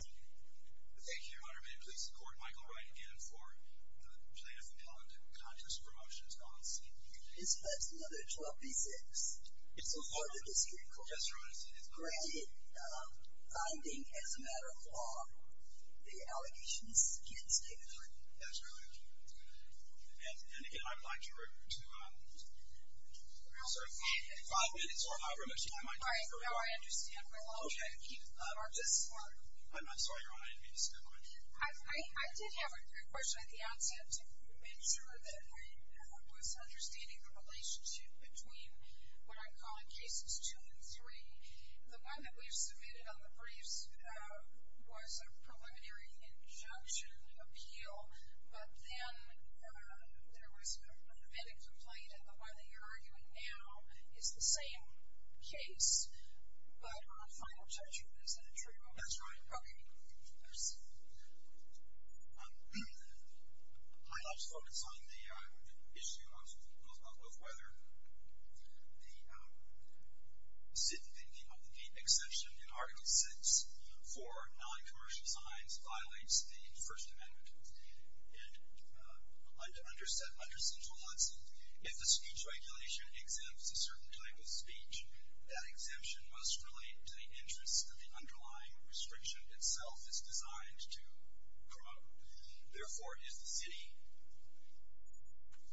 Thank you, Your Honor. May I please report Michael Wright again for the plaintiff appellant in the Constest Promotions v. City & County of San Francisco. This Buds No. 12-B-6 is before the District Court. Yes, Your Honor. Granted, finding as a matter of law, the allegations against David Wright. Yes, Your Honor. And again, I'd like to refer you to... Your Honor, I'm sorry. Five minutes or however much time I have. All right, Your Honor. I understand. I'll check and keep up. I'm sorry, Your Honor. I didn't mean to spend my time. I did have a question at the outset to make sure that I was understanding the relationship between what I'm calling Cases 2 and 3. The one that we've submitted on the briefs was a preliminary injunction appeal. But then there was a limited complaint, and the one that you're arguing now is the same case. But on final judgment, is that true? That's right. Okay. My last point is on the issue of whether the exemption in Article 6 for non-commercial signs violates the First Amendment. And under Central Hudson, if the speech regulation exempts a certain type of speech, that exemption must relate to the interest that the underlying restriction itself is designed to promote. Therefore, if the city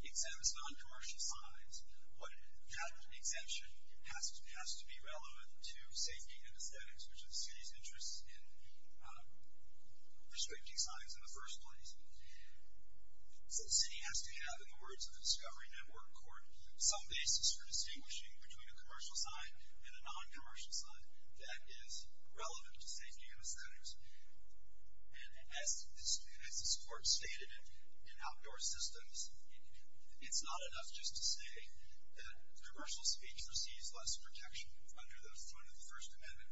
exempts non-commercial signs, that exemption has to be relevant to safety and aesthetics, which is the city's interest in restricting signs in the first place. So the city has to have, in the words of the Discovery Network Court, some basis for distinguishing between a commercial sign and a non-commercial sign that is relevant to safety and aesthetics. And as this Court stated in Outdoor Systems, it's not enough just to say that commercial speech receives less protection under the First Amendment.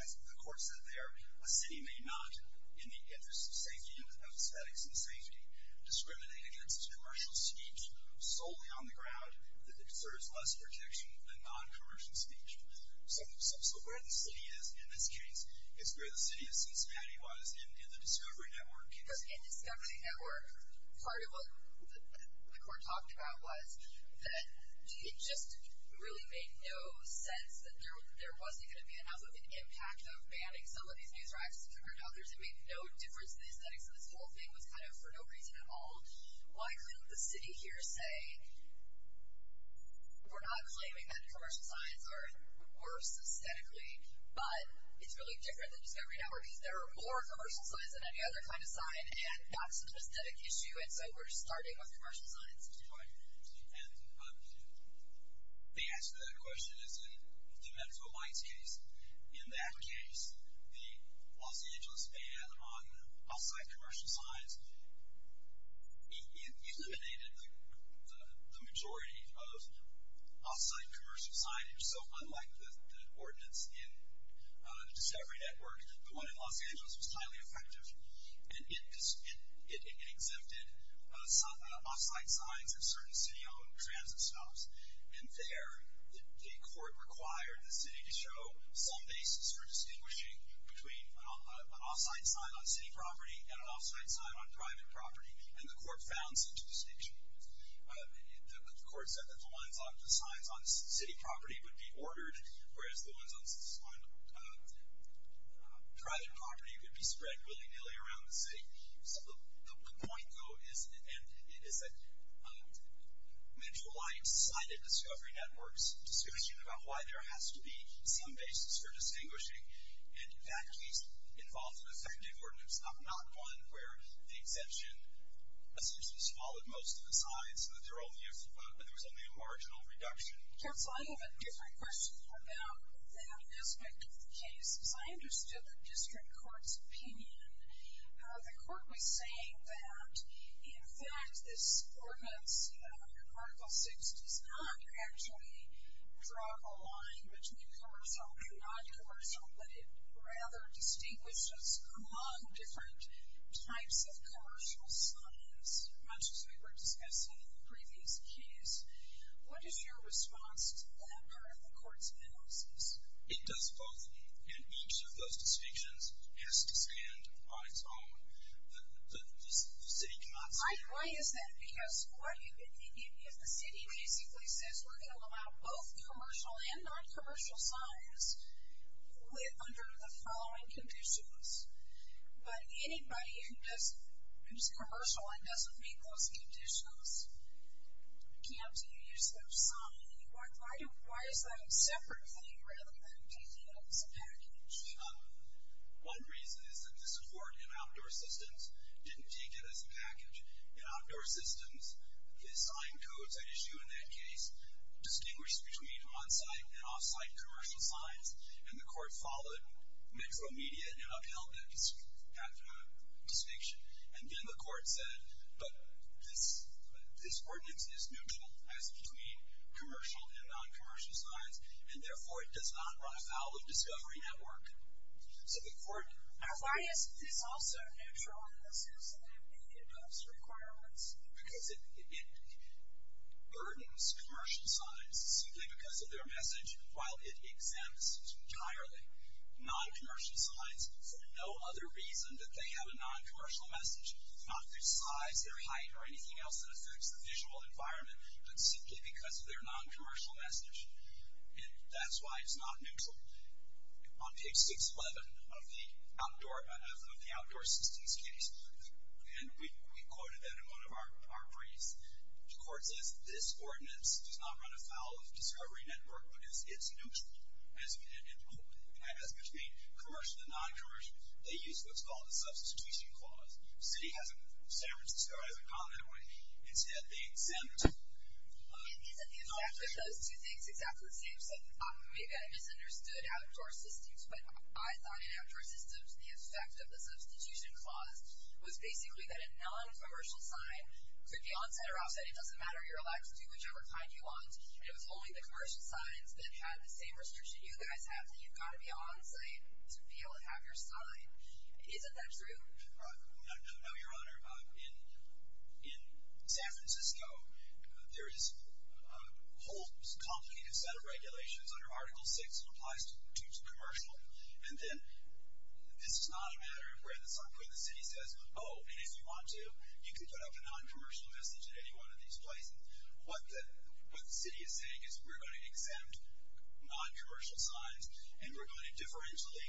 As the Court said there, a city may not, in the interest of safety and aesthetics and safety, discriminate against commercial speech solely on the ground that it serves less protection than non-commercial speech. So where the city is in this case is where the city of Cincinnati was in the Discovery Network case. Because in Discovery Network, part of what the Court talked about was that it just really made no sense that there wasn't going to be enough of an impact of banning some of these news racks compared to others. It made no difference to the aesthetics of this whole thing. It was kind of for no reason at all. Why couldn't the city here say, we're not claiming that commercial signs are worse aesthetically, but it's really different than Discovery Network because there are more commercial signs than any other kind of sign, and that's an aesthetic issue, and so we're starting with commercial signs. Right. And the answer to that question is in the Medico-Minds case. In that case, the Los Angeles ban on off-site commercial signs eliminated the majority of off-site commercial signage. So unlike the ordinance in the Discovery Network, the one in Los Angeles was highly effective, and it exempted off-site signs at certain city-owned transit stops. And there, the Court required the city to show some basis for distinguishing between an off-site sign on city property and an off-site sign on private property, and the Court found such a distinction. The Court said that the signs on city property would be ordered, whereas the ones on private property would be spread willy-nilly around the city. So the point, though, is that Metroline cited Discovery Network's discussion about why there has to be some basis for distinguishing, and that case involved an effective ordinance, not one where the exemption essentially swallowed most of the signs, but there was only a marginal reduction. Counsel, I have a different question about that aspect of the case, because I understood the district court's opinion. The court was saying that, in fact, this ordinance, Article VI, does not actually draw a line between commercial and non-commercial, but it rather distinguishes among different types of commercial signs, much as we were discussing in the previous case. What is your response to that part of the court's analysis? It does both, and each of those distinctions has to stand on its own. The city cannot stand on its own. Why is that? Because if the city basically says, we're going to allow both commercial and non-commercial signs under the following conditions, but anybody who's commercial and doesn't meet those conditions can't use their sign. Why is that a separate thing rather than taking it as a package? One reason is that the support in outdoor systems didn't take it as a package. In outdoor systems, the sign codes that issue in that case distinguish between on-site and off-site commercial signs, and the court followed Metro Media and upheld that distinction. And then the court said, but this ordinance is neutral as between commercial and non-commercial signs, and therefore it does not run afoul of Discovery Network. Why is this also neutral in the sense that they meet those requirements? Because it burdens commercial signs simply because of their message, while it exempts entirely non-commercial signs for no other reason that they have a non-commercial message. Not their size, their height, or anything else that affects the visual environment, but simply because of their non-commercial message. And that's why it's not neutral. On page 611 of the outdoor systems case, and we quoted that in one of our briefs, the court says this ordinance does not run afoul of Discovery Network because it's neutral as between commercial and non-commercial. They use what's called a substitution clause. The city hasn't gone that way. Instead, they exempt... Isn't the effect of those two things exactly the same? So maybe I misunderstood outdoor systems, but I thought in outdoor systems the effect of the substitution clause was basically that a non-commercial sign could be on-site or outside. It doesn't matter. You're allowed to do whichever kind you want, and it was only the commercial signs that had the same restriction you guys have, that you've got to be on-site to be able to have your sign. Isn't that true? No, Your Honor. In San Francisco, there is a whole complicated set of regulations under Article VI that applies due to commercial. And then this is not a matter where the city says, oh, and if you want to, you can put up a non-commercial message at any one of these places. What the city is saying is we're going to exempt non-commercial signs, and we're going to differentially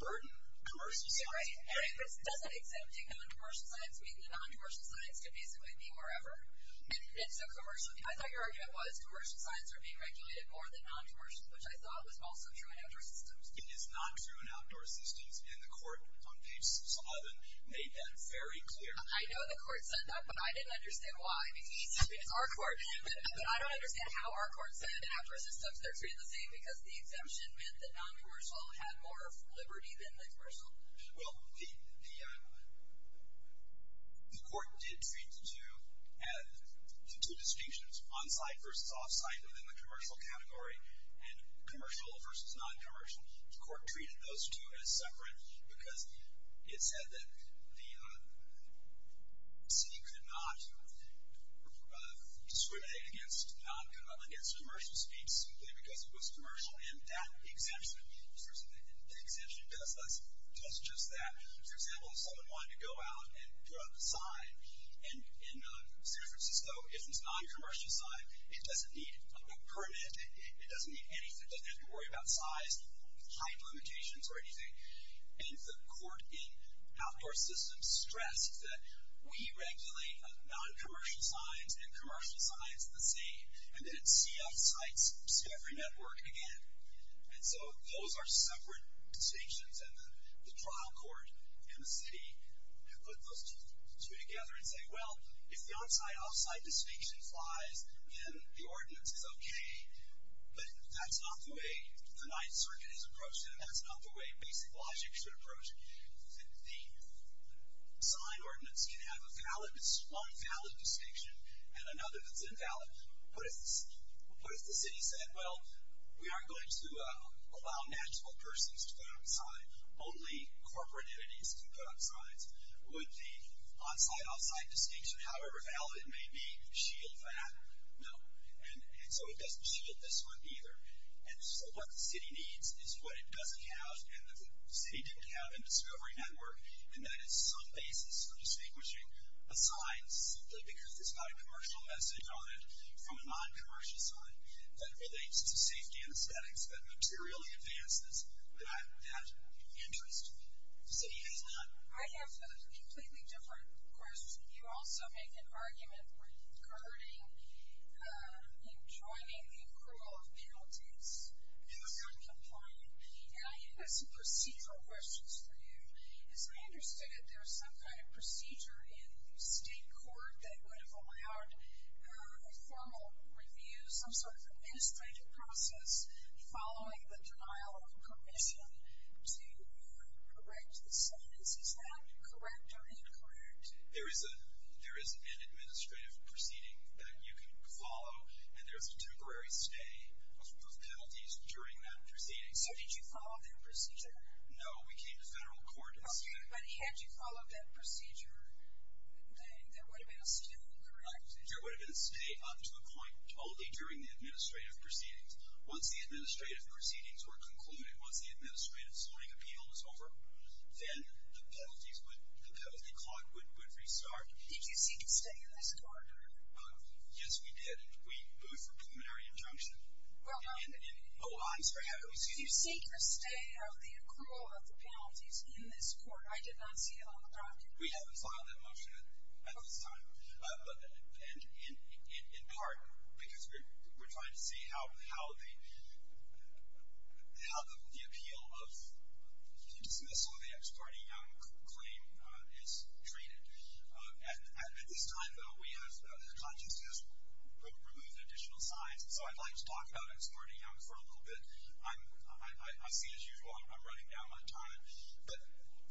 burden commercial signs. Right. But doesn't exempting non-commercial signs mean that non-commercial signs can basically be wherever? And so commercially, I thought your argument was commercial signs are being regulated more than non-commercial, which I thought was also true in outdoor systems. It is not true in outdoor systems, and the court on page 11 made that very clear. I know the court said that, but I didn't understand why. I mean, it's our court, but I don't understand how our court said in outdoor systems they're treated the same because the exemption meant that non-commercial had more liberty than commercial. Well, the court did treat the two distinctions, on-site versus off-site, within the commercial category, and commercial versus non-commercial. The court treated those two as separate because it said that the city could not discriminate against non-commercial speech simply because it was commercial, and that exemption does just that. For example, if someone wanted to go out and put up a sign in San Francisco, if it's a non-commercial sign, it doesn't need a permit. It doesn't need anything. It doesn't have to worry about size, height limitations, or anything. And the court in outdoor systems stressed that we regulate non-commercial signs and commercial signs the same, and then see off-site, see every network again. And so those are separate distinctions, and the trial court and the city have put those two together and say, well, if the on-site, off-site distinction flies, then the ordinance is okay, but that's not the way the Ninth Circuit has approached it, and that's not the way basic logic should approach it. The sign ordinance can have one valid distinction and another that's invalid, but what if the city said, well, we aren't going to allow natural persons to put up a sign. Only corporate entities can put up signs. Would the on-site, off-site distinction, however valid it may be, shield that? No. And so it doesn't shield this one either. And so what the city needs is what it doesn't have, and the city didn't have in the discovery network, and that is some basis for distinguishing a sign simply because it's not a sign from a non-commercial sign that relates to safety anesthetics, that materially advances that interest. The city has not. I have a completely different question. You also make an argument regarding joining the approval of penalties for noncompliance, and I have some procedural questions for you. As I understood it, there's some kind of procedure in state court that would have allowed a formal review, some sort of administrative process, following the denial of permission to correct the sign. Is that correct or incorrect? There is an administrative proceeding that you can follow, and there's a temporary stay of penalties during that proceeding. So did you follow that procedure? No, we came to federal court instead. Okay, but had you followed that procedure, there would have been a stay, correct? There would have been a stay up to a point only during the administrative proceedings. Once the administrative proceedings were concluded, once the administrative slowing appeal was over, then the penalty clause would restart. Did you seek a stay in this court? Yes, we did. We moved for preliminary injunction. Oh, I'm sorry. So did you seek a stay of the accrual of the penalties in this court? I did not see it on the draft. We haven't filed that motion at this time, in part because we're trying to see how the appeal of the dismissal of the Ex parte Young claim is treated. At this time, though, we have, the contest has removed additional signs, so I'd like to talk about Ex parte Young for a little bit. I see, as usual, I'm running down my time, but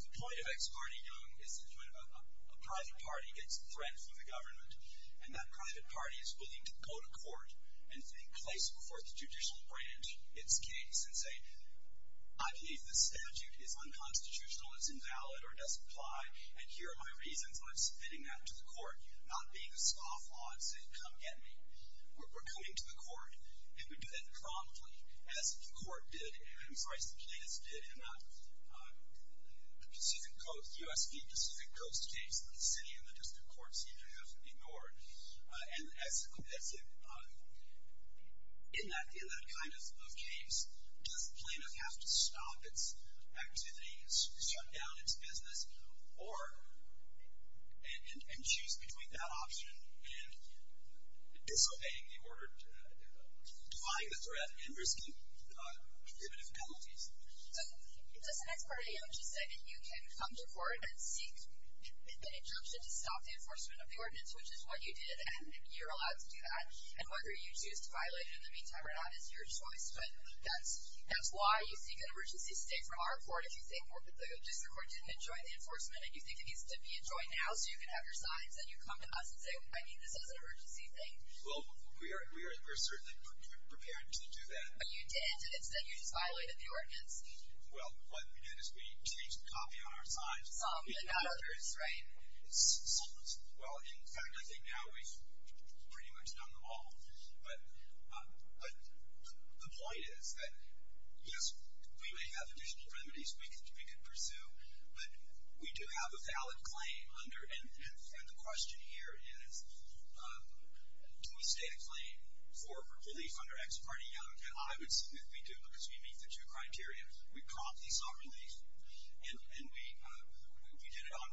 the point of Ex parte Young is that when a private party gets a threat from the government and that private party is willing to go to court and place before the judicial branch its case and say, I believe this statute is unconstitutional, it's invalid or doesn't apply, and here are my reasons. I'm submitting that to the court, not being a scofflaw and saying, come get me. We're coming to the court, and we do that promptly, as the court did and, I'm sorry, as the plaintiffs did in the Pacific Coast, U.S. v. Pacific Coast case that the city and the district courts seem to have ignored. And as in that kind of case, does the plaintiff have to stop its activities, shut down its business, or, and choose between that option and disobeying the order, defying the threat and risking prohibitive penalties? So does Ex parte Young just say that you can come to court and seek the injunction to stop the enforcement of the ordinance, which is what you did, and you're allowed to do that, and whether you choose to violate it in the meantime or not is your choice, but that's why you seek an emergency stay from our court if you think the enforcement and you think it needs to be enjoyed now so you can have your signs and you come to us and say, I mean, this is an emergency thing. Well, we are certainly prepared to do that. But you did, and it's that you just violated the ordinance. Well, what we did is we changed the copy on our signs. Some, but not others, right? Some. Well, in fact, I think now we've pretty much done them all. But the point is that, yes, we may have additional remedies we can pursue, but we do have a valid claim under, and the question here is, do we state a claim for relief under Ex parte Young, and I would say that we do because we meet the two criteria. We promptly sought relief, and we did it on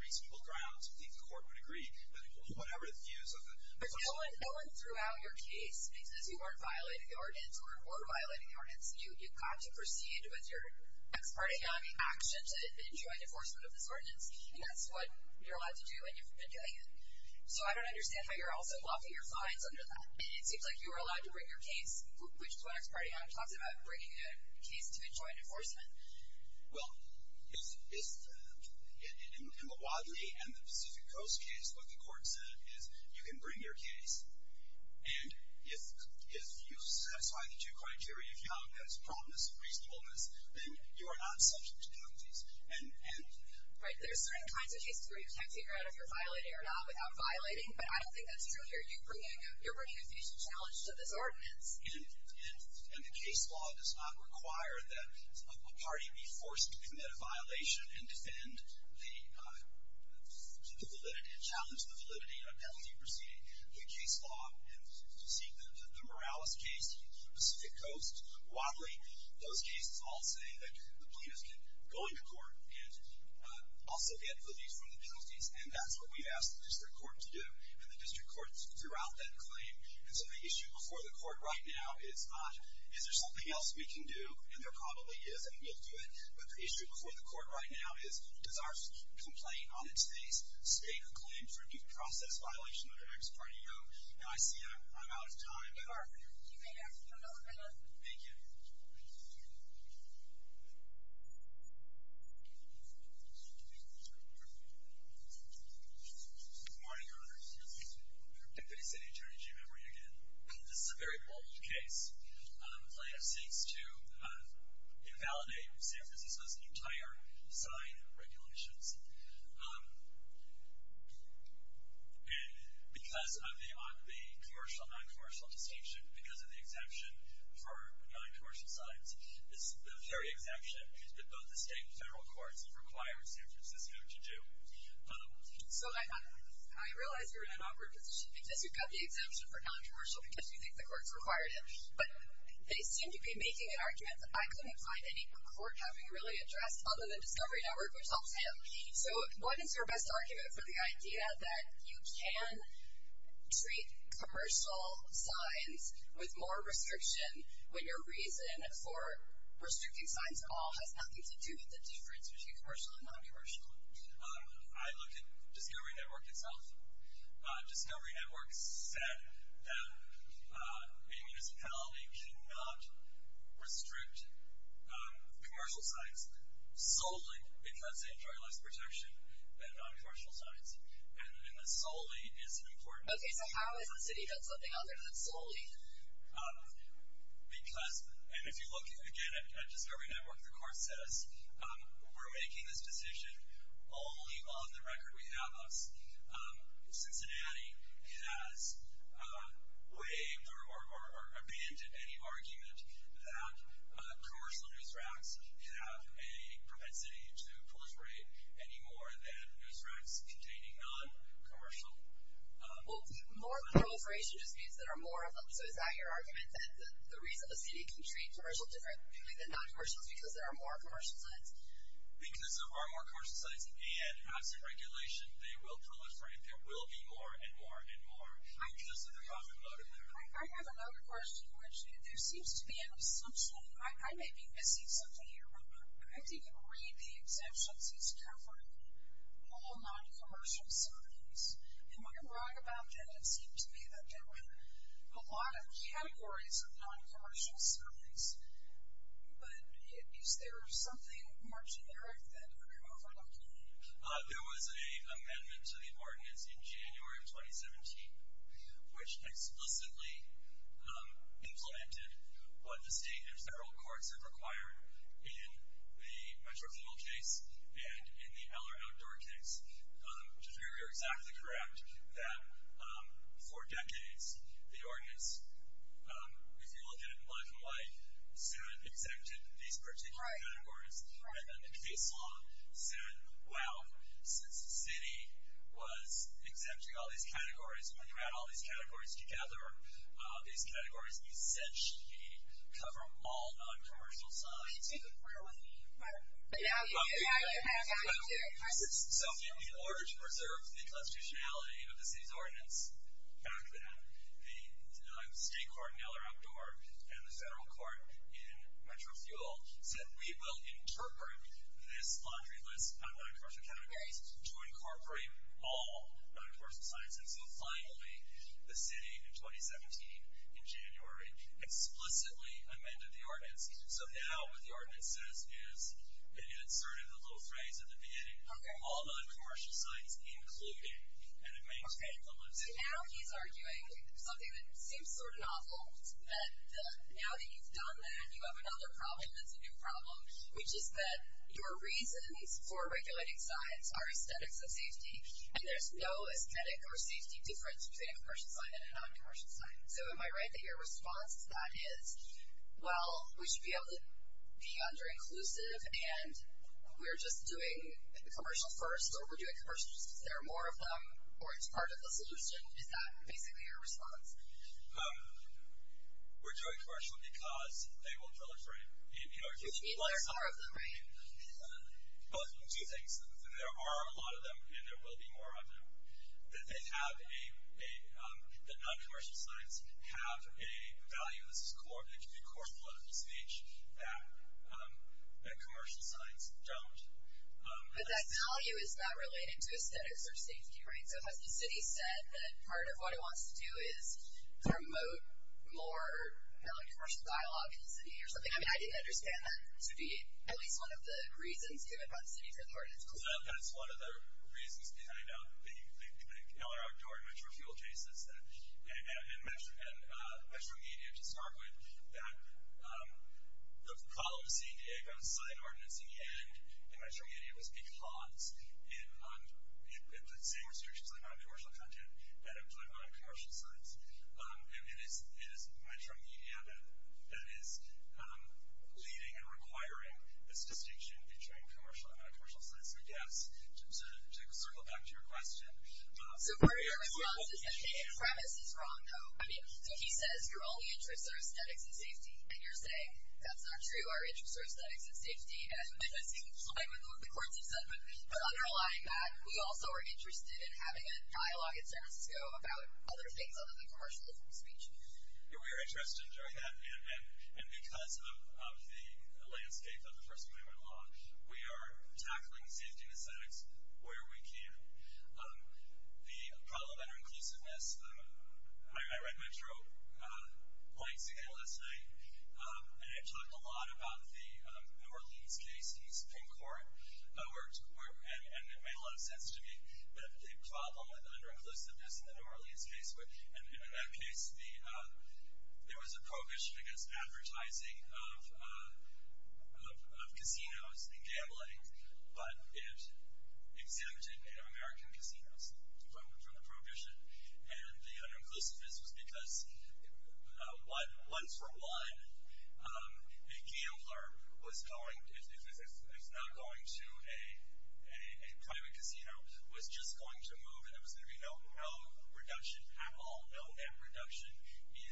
reasonable grounds. I think the court would agree that whatever the views of the court. But going throughout your case because you weren't violating the ordinance or were violating the ordinance, you've got to proceed with your Ex parte Young action to enjoin enforcement of this ordinance, and that's what you're allowed to do and you've been doing it. So I don't understand how you're also blocking your signs under that. It seems like you were allowed to bring your case, which is what Ex parte Young talks about, bringing a case to enjoin enforcement. Well, in the Wadley and the Pacific Coast case, what the court said is you can bring your case, and if you satisfy the two criteria of Young, that's prominence and reasonableness, then you are not subject to penalties. Right, there are certain kinds of cases where you can figure out if you're violating or not without violating, but I don't think that's true here. You're bringing a facial challenge to this ordinance. And the case law does not require that a party be forced to commit a violation and defend the validity and challenge the validity of the penalty proceeding. The case law, and you see the Morales case, Pacific Coast, Wadley, those cases all say that the plaintiff can go into court and also get relief from the penalties, and that's what we've asked the district court to do, and the district court's throughout that claim. And so the issue before the court right now is not, is there something else we can do, and there probably is and we'll do it, but the issue before the court right now is, does our complaint on its face state a claim for due process violation under Acts 20-0? Now, I see I'm out of time. We are. You may ask for a moment of silence. Thank you. Good morning, Your Honor. Good morning. Deputy City Attorney Jim Emory again. This is a very bold case. The plaintiff seeks to invalidate San Francisco's entire sign regulations, and because of the commercial and non-commercial distinction, because of the exemption for non-commercial signs, the very exemption that both the state and federal courts have required San Francisco to do. So, Your Honor, I realize you're in an awkward position, because you've got the exemption for non-commercial because you think the courts required it, but they seem to be making an argument that I couldn't find any court having really addressed other than Discovery Network, which helps him. So, what is your best argument for the idea that you can treat commercial signs with more restriction when your reason for restricting signs at all has nothing to do with the difference between commercial and non-commercial? I look at Discovery Network itself. Discovery Network said that a municipality cannot restrict commercial signs solely because they enjoy less protection than non-commercial signs, and that solely is important. Okay, so how is the city doing something other than solely? Because, and if you look, again, at Discovery Network, the court says, we're making this decision only on the record we have us. Cincinnati has waived or abandoned any argument that commercial news racks have a propensity to proliferate any more than news racks containing non-commercial. Well, more proliferation just means there are more of them. So, is that your argument, that the reason the city can treat commercial differently than non-commercial is because there are more commercial signs? Because there are more commercial signs, and as a regulation, they will proliferate. There will be more and more and more because of the profit motive there. I have another question, which there seems to be an assumption. I may be missing something here, but I think you can read the exemptions as covering all non-commercial signs. Am I wrong about that? It seems to me that there were a lot of categories of non-commercial signs, but is there something more generic that I'm overlooking? There was an amendment to the ordinance in January of 2017, which explicitly implemented what the state and federal courts have required in the Metro Field case and in the Eller Outdoor case, which is very, very exactly correct, that for decades, the ordinance, if you look at it in black and white, said it exempted these particular categories, and then the case law said, well, since the city was exempting all these categories, when you add all these categories together, these categories essentially cover all non-commercial signs. I didn't take a part of what you mean, but now you have to. So, in order to preserve the constitutionality of the city's ordinance back then, the state court in Eller Outdoor and the federal court in Metro Field said we will interpret this laundry list of non-commercial categories to incorporate all non-commercial signs. And so, finally, the city in 2017, in January, explicitly amended the ordinance. So, now what the ordinance says is it inserted the little phrase at the beginning, all non-commercial signs including, and it maintains the list. So, now he's arguing something that seems sort of novel, that now that you've done that, you have another problem that's a new problem, which is that your reasons for regulating signs are aesthetics and safety, and there's no aesthetic or safety difference between a commercial sign and a non-commercial sign. So, am I right that your response to that is, well, we should be able to be under-inclusive and we're just doing commercial first or we're doing commercial because there are more of them or it's part of the solution? Is that basically your response? We're doing commercial because they will drill a frame. Which means there are more of them, right? Well, two things. There are a lot of them and there will be more of them. That they have a, that non-commercial signs have a value, this is a core political speech, that commercial signs don't. But that value is not related to aesthetics or safety, right? So, has the city said that part of what it wants to do is promote more non-commercial dialogue in the city or something? I mean, I didn't understand that to be at least one of the reasons given by the city for the ordinance. No, that's one of the reasons behind the LR outdoor and metro fuel cases and metro media to start with. That the problem with seeing Diego's sign ordinance and metro media was because of the same restrictions on non-commercial content that apply to non-commercial signs. It is metro media that is leading and requiring this distinction between commercial and non-commercial signs, I guess. To circle back to your question. So, part of your response is that the premise is wrong, though. I mean, so he says your only interests are aesthetics and safety. And you're saying that's not true, our interests are aesthetics and safety. And I think the courts have said that. But underlying that, we also are interested in having a dialogue in San Francisco about other things other than commercial speech. Yeah, we are interested in doing that. And because of the landscape of the First Amendment law, we are tackling safety and aesthetics where we can. The problem under inclusiveness, I read Metro points again last night, and it talked a lot about the Norlees case, East Pink Court, and it made a lot of sense to me that the problem with under-inclusiveness in the Norlees case, and in that case, there was a prohibition against advertising of casinos and gambling, but it exempted Native American casinos from the prohibition. And the under-inclusiveness was because, once for one, a gambler, if not going to a private casino, was just going to move and there was going to be no reduction at all, no net reduction in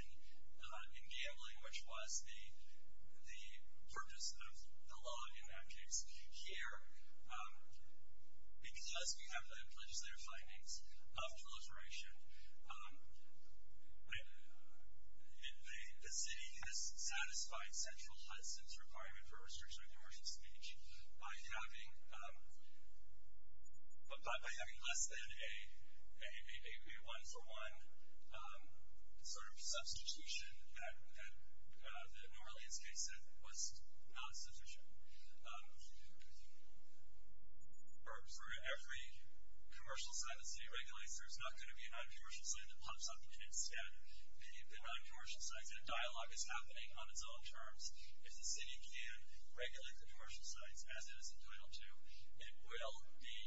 gambling, which was the purpose of the law in that case. Here, because we have the legislative findings of proliferation, the city has satisfied central Hudson's requirement for restriction of commercial speech by having less than a one-for-one sort of substitution that the Norlees case said was not sufficient. For every commercial site the city regulates, there's not going to be a non-commercial site that pops up, and instead, the non-commercial sites, and dialogue is happening on its own terms. If the city can regulate the commercial sites as it is entitled to, it will be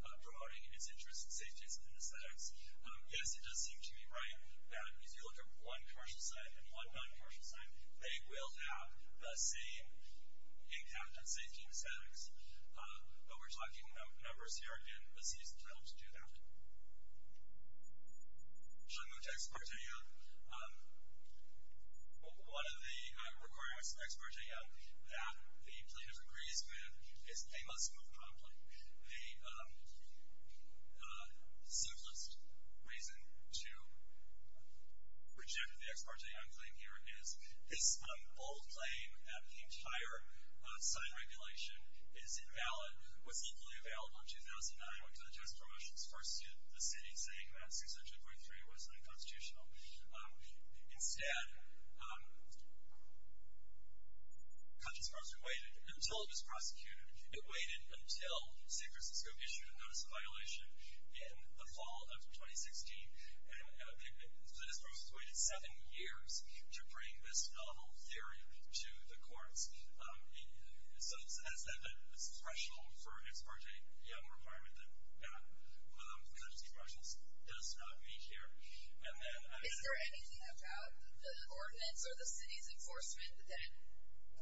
promoting its interests and safety and aesthetics. Yes, it does seem to me right that if you look at one commercial site and one non-commercial site, they will have the same impact and safety and aesthetics, but we're talking numbers here, and the city's entitled to do that. Chamute expertea, one of the requirements of expertea that the plaintiff agrees with is they must move promptly. The simplest reason to reject the expertea claim here is this bold claim that the entire site regulation is invalid was legally available in 2009 when it came to the tax promotions for the city, saying that 602.3 was unconstitutional. Instead, conscience-prompting waited until it was prosecuted. It waited until San Francisco issued a notice of violation in the fall of 2016, and the district waited seven years to bring this novel theory to the courts. So that's the threshold for expertea, a requirement that does not meet here. Is there anything about the ordinance or the city's enforcement that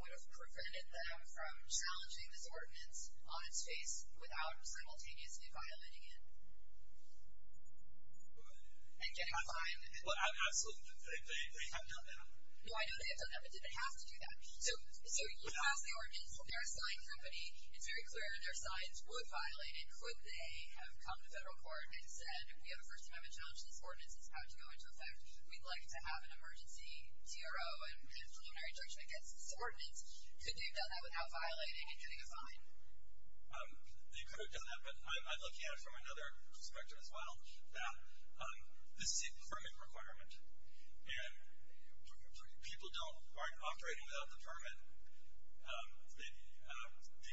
would have prevented them from challenging this ordinance on its face without simultaneously violating it? And getting fined? Well, absolutely. They have done that. No, I know they have done that, but did it have to do that? So you passed the ordinance. They're a signed company. It's very clear their signs would violate it. Could they have come to federal court and said, we have a First Amendment challenge to this ordinance. It's had to go into effect. We'd like to have an emergency TRO and preliminary judgment against this ordinance. Could they have done that without violating and getting a fine? They could have done that, but I'm looking at it from another perspective as well, that this is a permit requirement, and people aren't operating without the permit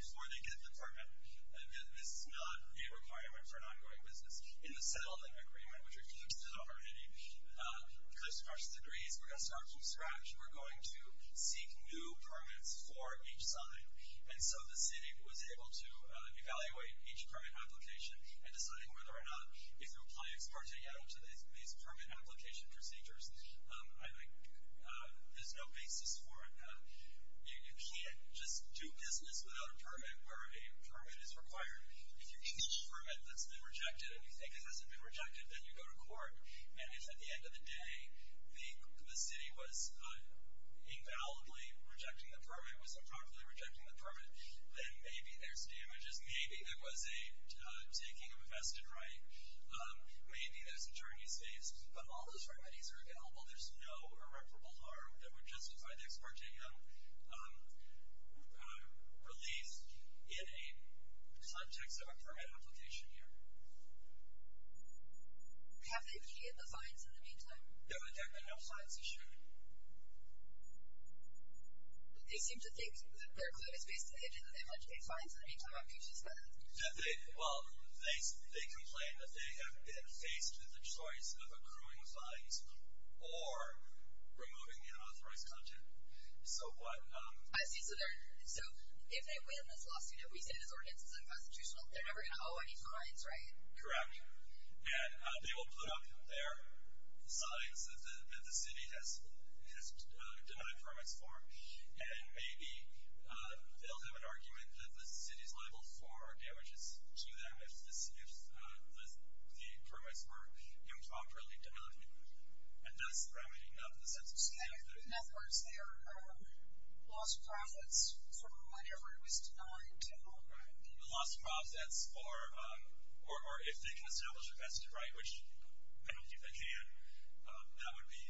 before they get the permit. This is not a requirement for an ongoing business. In the Settlement Agreement, which refers to the authority, because of our degrees, we're going to start from scratch. We're going to seek new permits for each sign. And so the city was able to evaluate each permit application and deciding whether or not, if you apply ex parte to these permit application procedures, I think there's no basis for it now. You can't just do business without a permit where a permit is required. If you get a permit that's been rejected and you think it hasn't been rejected, then you go to court. And if at the end of the day the city was invalidly rejecting the permit, was improperly rejecting the permit, then maybe there's damages. Maybe there was a taking of a vested right. Maybe there's attorneys faced. But all those remedies are available. There's no irreparable harm that would justify the ex parte relief in a context of a permit application here. Have they pediated the fines in the meantime? No. In fact, no fines issued. They seem to think that their clue is based on the fact that they have not paid fines in the meantime. I'm curious about that. Well, they complain that they have been faced with a choice of accruing fines or removing the unauthorized content. So what? I see. So if they win this lawsuit, if we say this ordinance is unconstitutional, they're never going to owe any fines, right? Correct. And they will put up their signs that the city has denied permits for. And maybe they'll have an argument that the city's liable for damages to them if the permits were improperly denied. And that's remedying the sense of safety. In other words, they are lost profits from whatever it was denied. Right. The lost profits, or if they can establish a vested right, which I don't think they can, that would be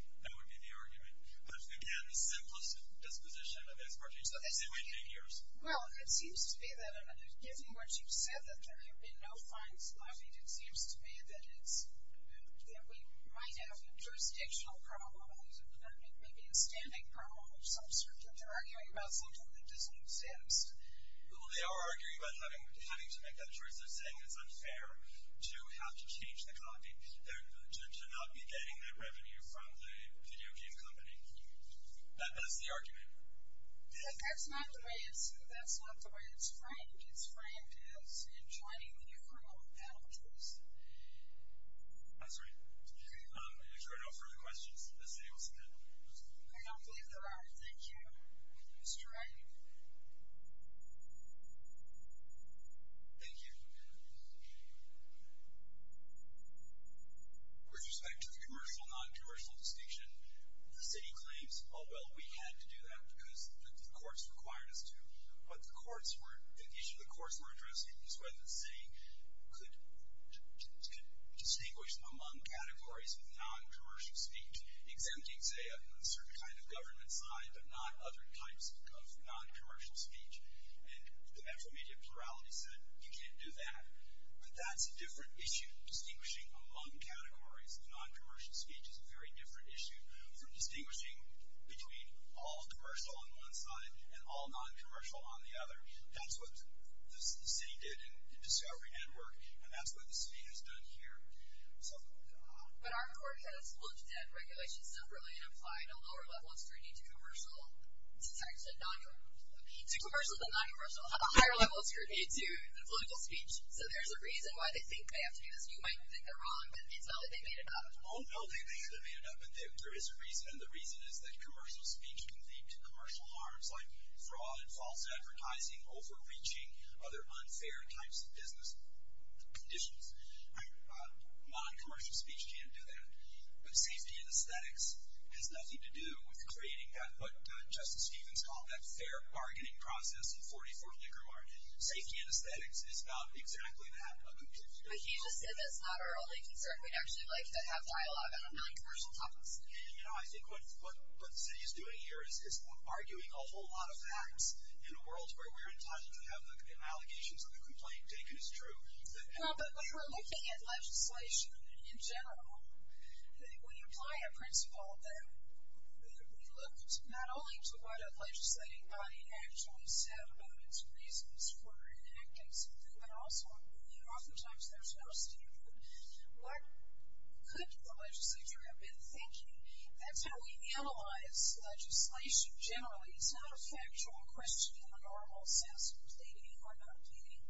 the argument. But, again, the simplest disposition of ex parte. They wait eight years. Well, it seems to be that, given what you've said, that there have been no fines levied, it seems to be that we might have a jurisdictional problem or maybe a standing problem of some sort, that they're arguing about something that doesn't exist. Well, they are arguing about having to make that choice. They're saying it's unfair to have to change the copy, to not be getting that revenue from the video game company. That is the argument. That's not the way it's framed. It's framed as enjoining the criminal penalties. I'm sorry. If there are no further questions, the city will suspend. I don't believe there are. Thank you. Mr. Wright. Thank you. With respect to the commercial-noncommercial distinction, the city claims, oh, well, we had to do that because the courts required us to. But the issue the courts were addressing was whether the city could distinguish among categories with noncommercial speech, exempting, say, a certain kind of government side, but not other types of noncommercial speech. And the media plurality said, you can't do that. But that's a different issue, distinguishing among categories. Noncommercial speech is a very different issue from distinguishing between all commercial on one side and all noncommercial on the other. That's what the city did in discovery network, and that's what the city has done here. But our court has looked at regulations separately and applied a lower level of scrutiny to commercial. It's actually a noncommercial. To commercial, the noncommercial, a higher level of scrutiny to the political speech. So there's a reason why they think they have to do this. You might think they're wrong, but it's not that they made it up. Oh, no, they think they made it up, but there is a reason, and the reason is that commercial speech can lead to commercial harms like fraud, false advertising, overreaching, other unfair types of business conditions. Noncommercial speech can't do that. But safety anesthetics has nothing to do with creating that, what Justice Stevens called that fair bargaining process in 44th Liquor Market. Safety anesthetics is about exactly that. But he just said that's not our only concern. We'd actually like to have dialogue on noncommercial topics. You know, I think what the city is doing here is arguing a whole lot of facts in a world where we're entitled to have the allegations of the complaint taken as true. Well, but we were looking at legislation in general. When you apply a principle, we looked not only to what a legislating body actually said about its reasons for enacting something, but also oftentimes there's no standard. What could the legislature have been thinking? That's how we analyze legislation generally. It's not a factual question in the normal sense of pleading or not pleading.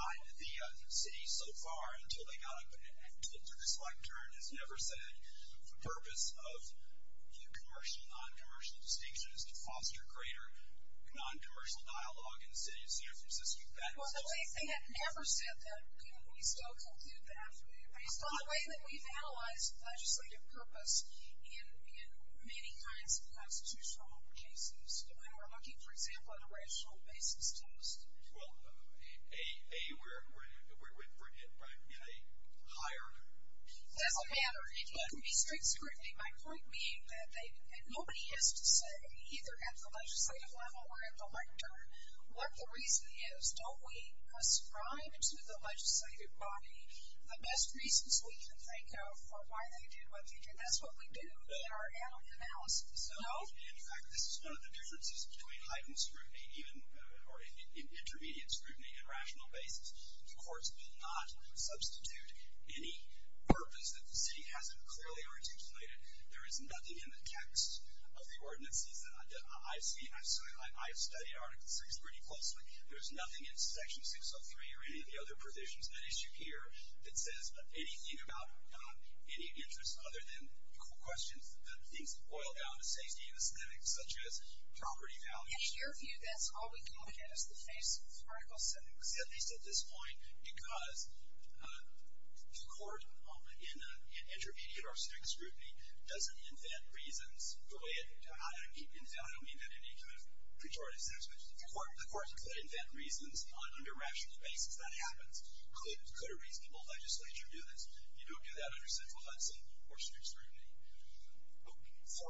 The city so far, until they got up to this lectern, has never said the purpose of commercial and noncommercial distinction is to foster greater noncommercial dialogue in the city of San Francisco. Well, they have never said that. Can we still conclude that based on the way that we've analyzed legislative purpose in many kinds of constitutional cases when we're looking, for example, at a rational basis test? Well, A, we're in a higher level. It doesn't matter. It can be strict scrutiny. My point being that nobody has to say, either at the legislative level or at the lectern, what the reason is. Don't we ascribe to the legislative body the best reasons we can think of for why they did what they did? That's what we do in our annual analysis. No? In fact, this is one of the differences between heightened scrutiny, or intermediate scrutiny, and rational basis. The courts will not substitute any purpose that the city hasn't clearly articulated. There is nothing in the text of the ordinances that I've studied. I've studied Article VI pretty closely. There's nothing in Section 603 or any of the other provisions that issue here that says anything about any interest other than questions that things boil down to safety and aesthetics, such as property values. In your view, that's all we can look at is the face of Article VI. See, at least at this point, because the court, in intermediate or strict scrutiny, doesn't invent reasons. I don't mean that in any kind of pejorative sense, but the court could invent reasons on a rational basis. That happens. Could a reasonable legislature do this? You don't do that under central Hudson or strict scrutiny. So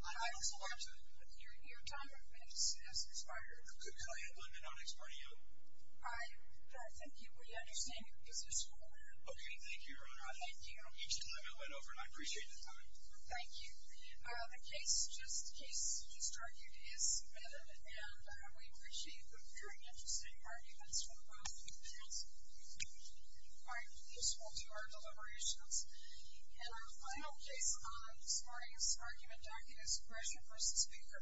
I also want to. Your time on minutes has expired. Good. Can I add one minute on expiration? I thank you. We understand your position, Your Honor. Okay. Thank you, Your Honor. Thank you. Each time I went over, and I appreciate the time. Thank you. The case just argued is submitted, and we appreciate the very interesting arguments from both panels. If you find it useful to our deliberations. And our final case on this morning's argument, The case just argued is expression versus speaker.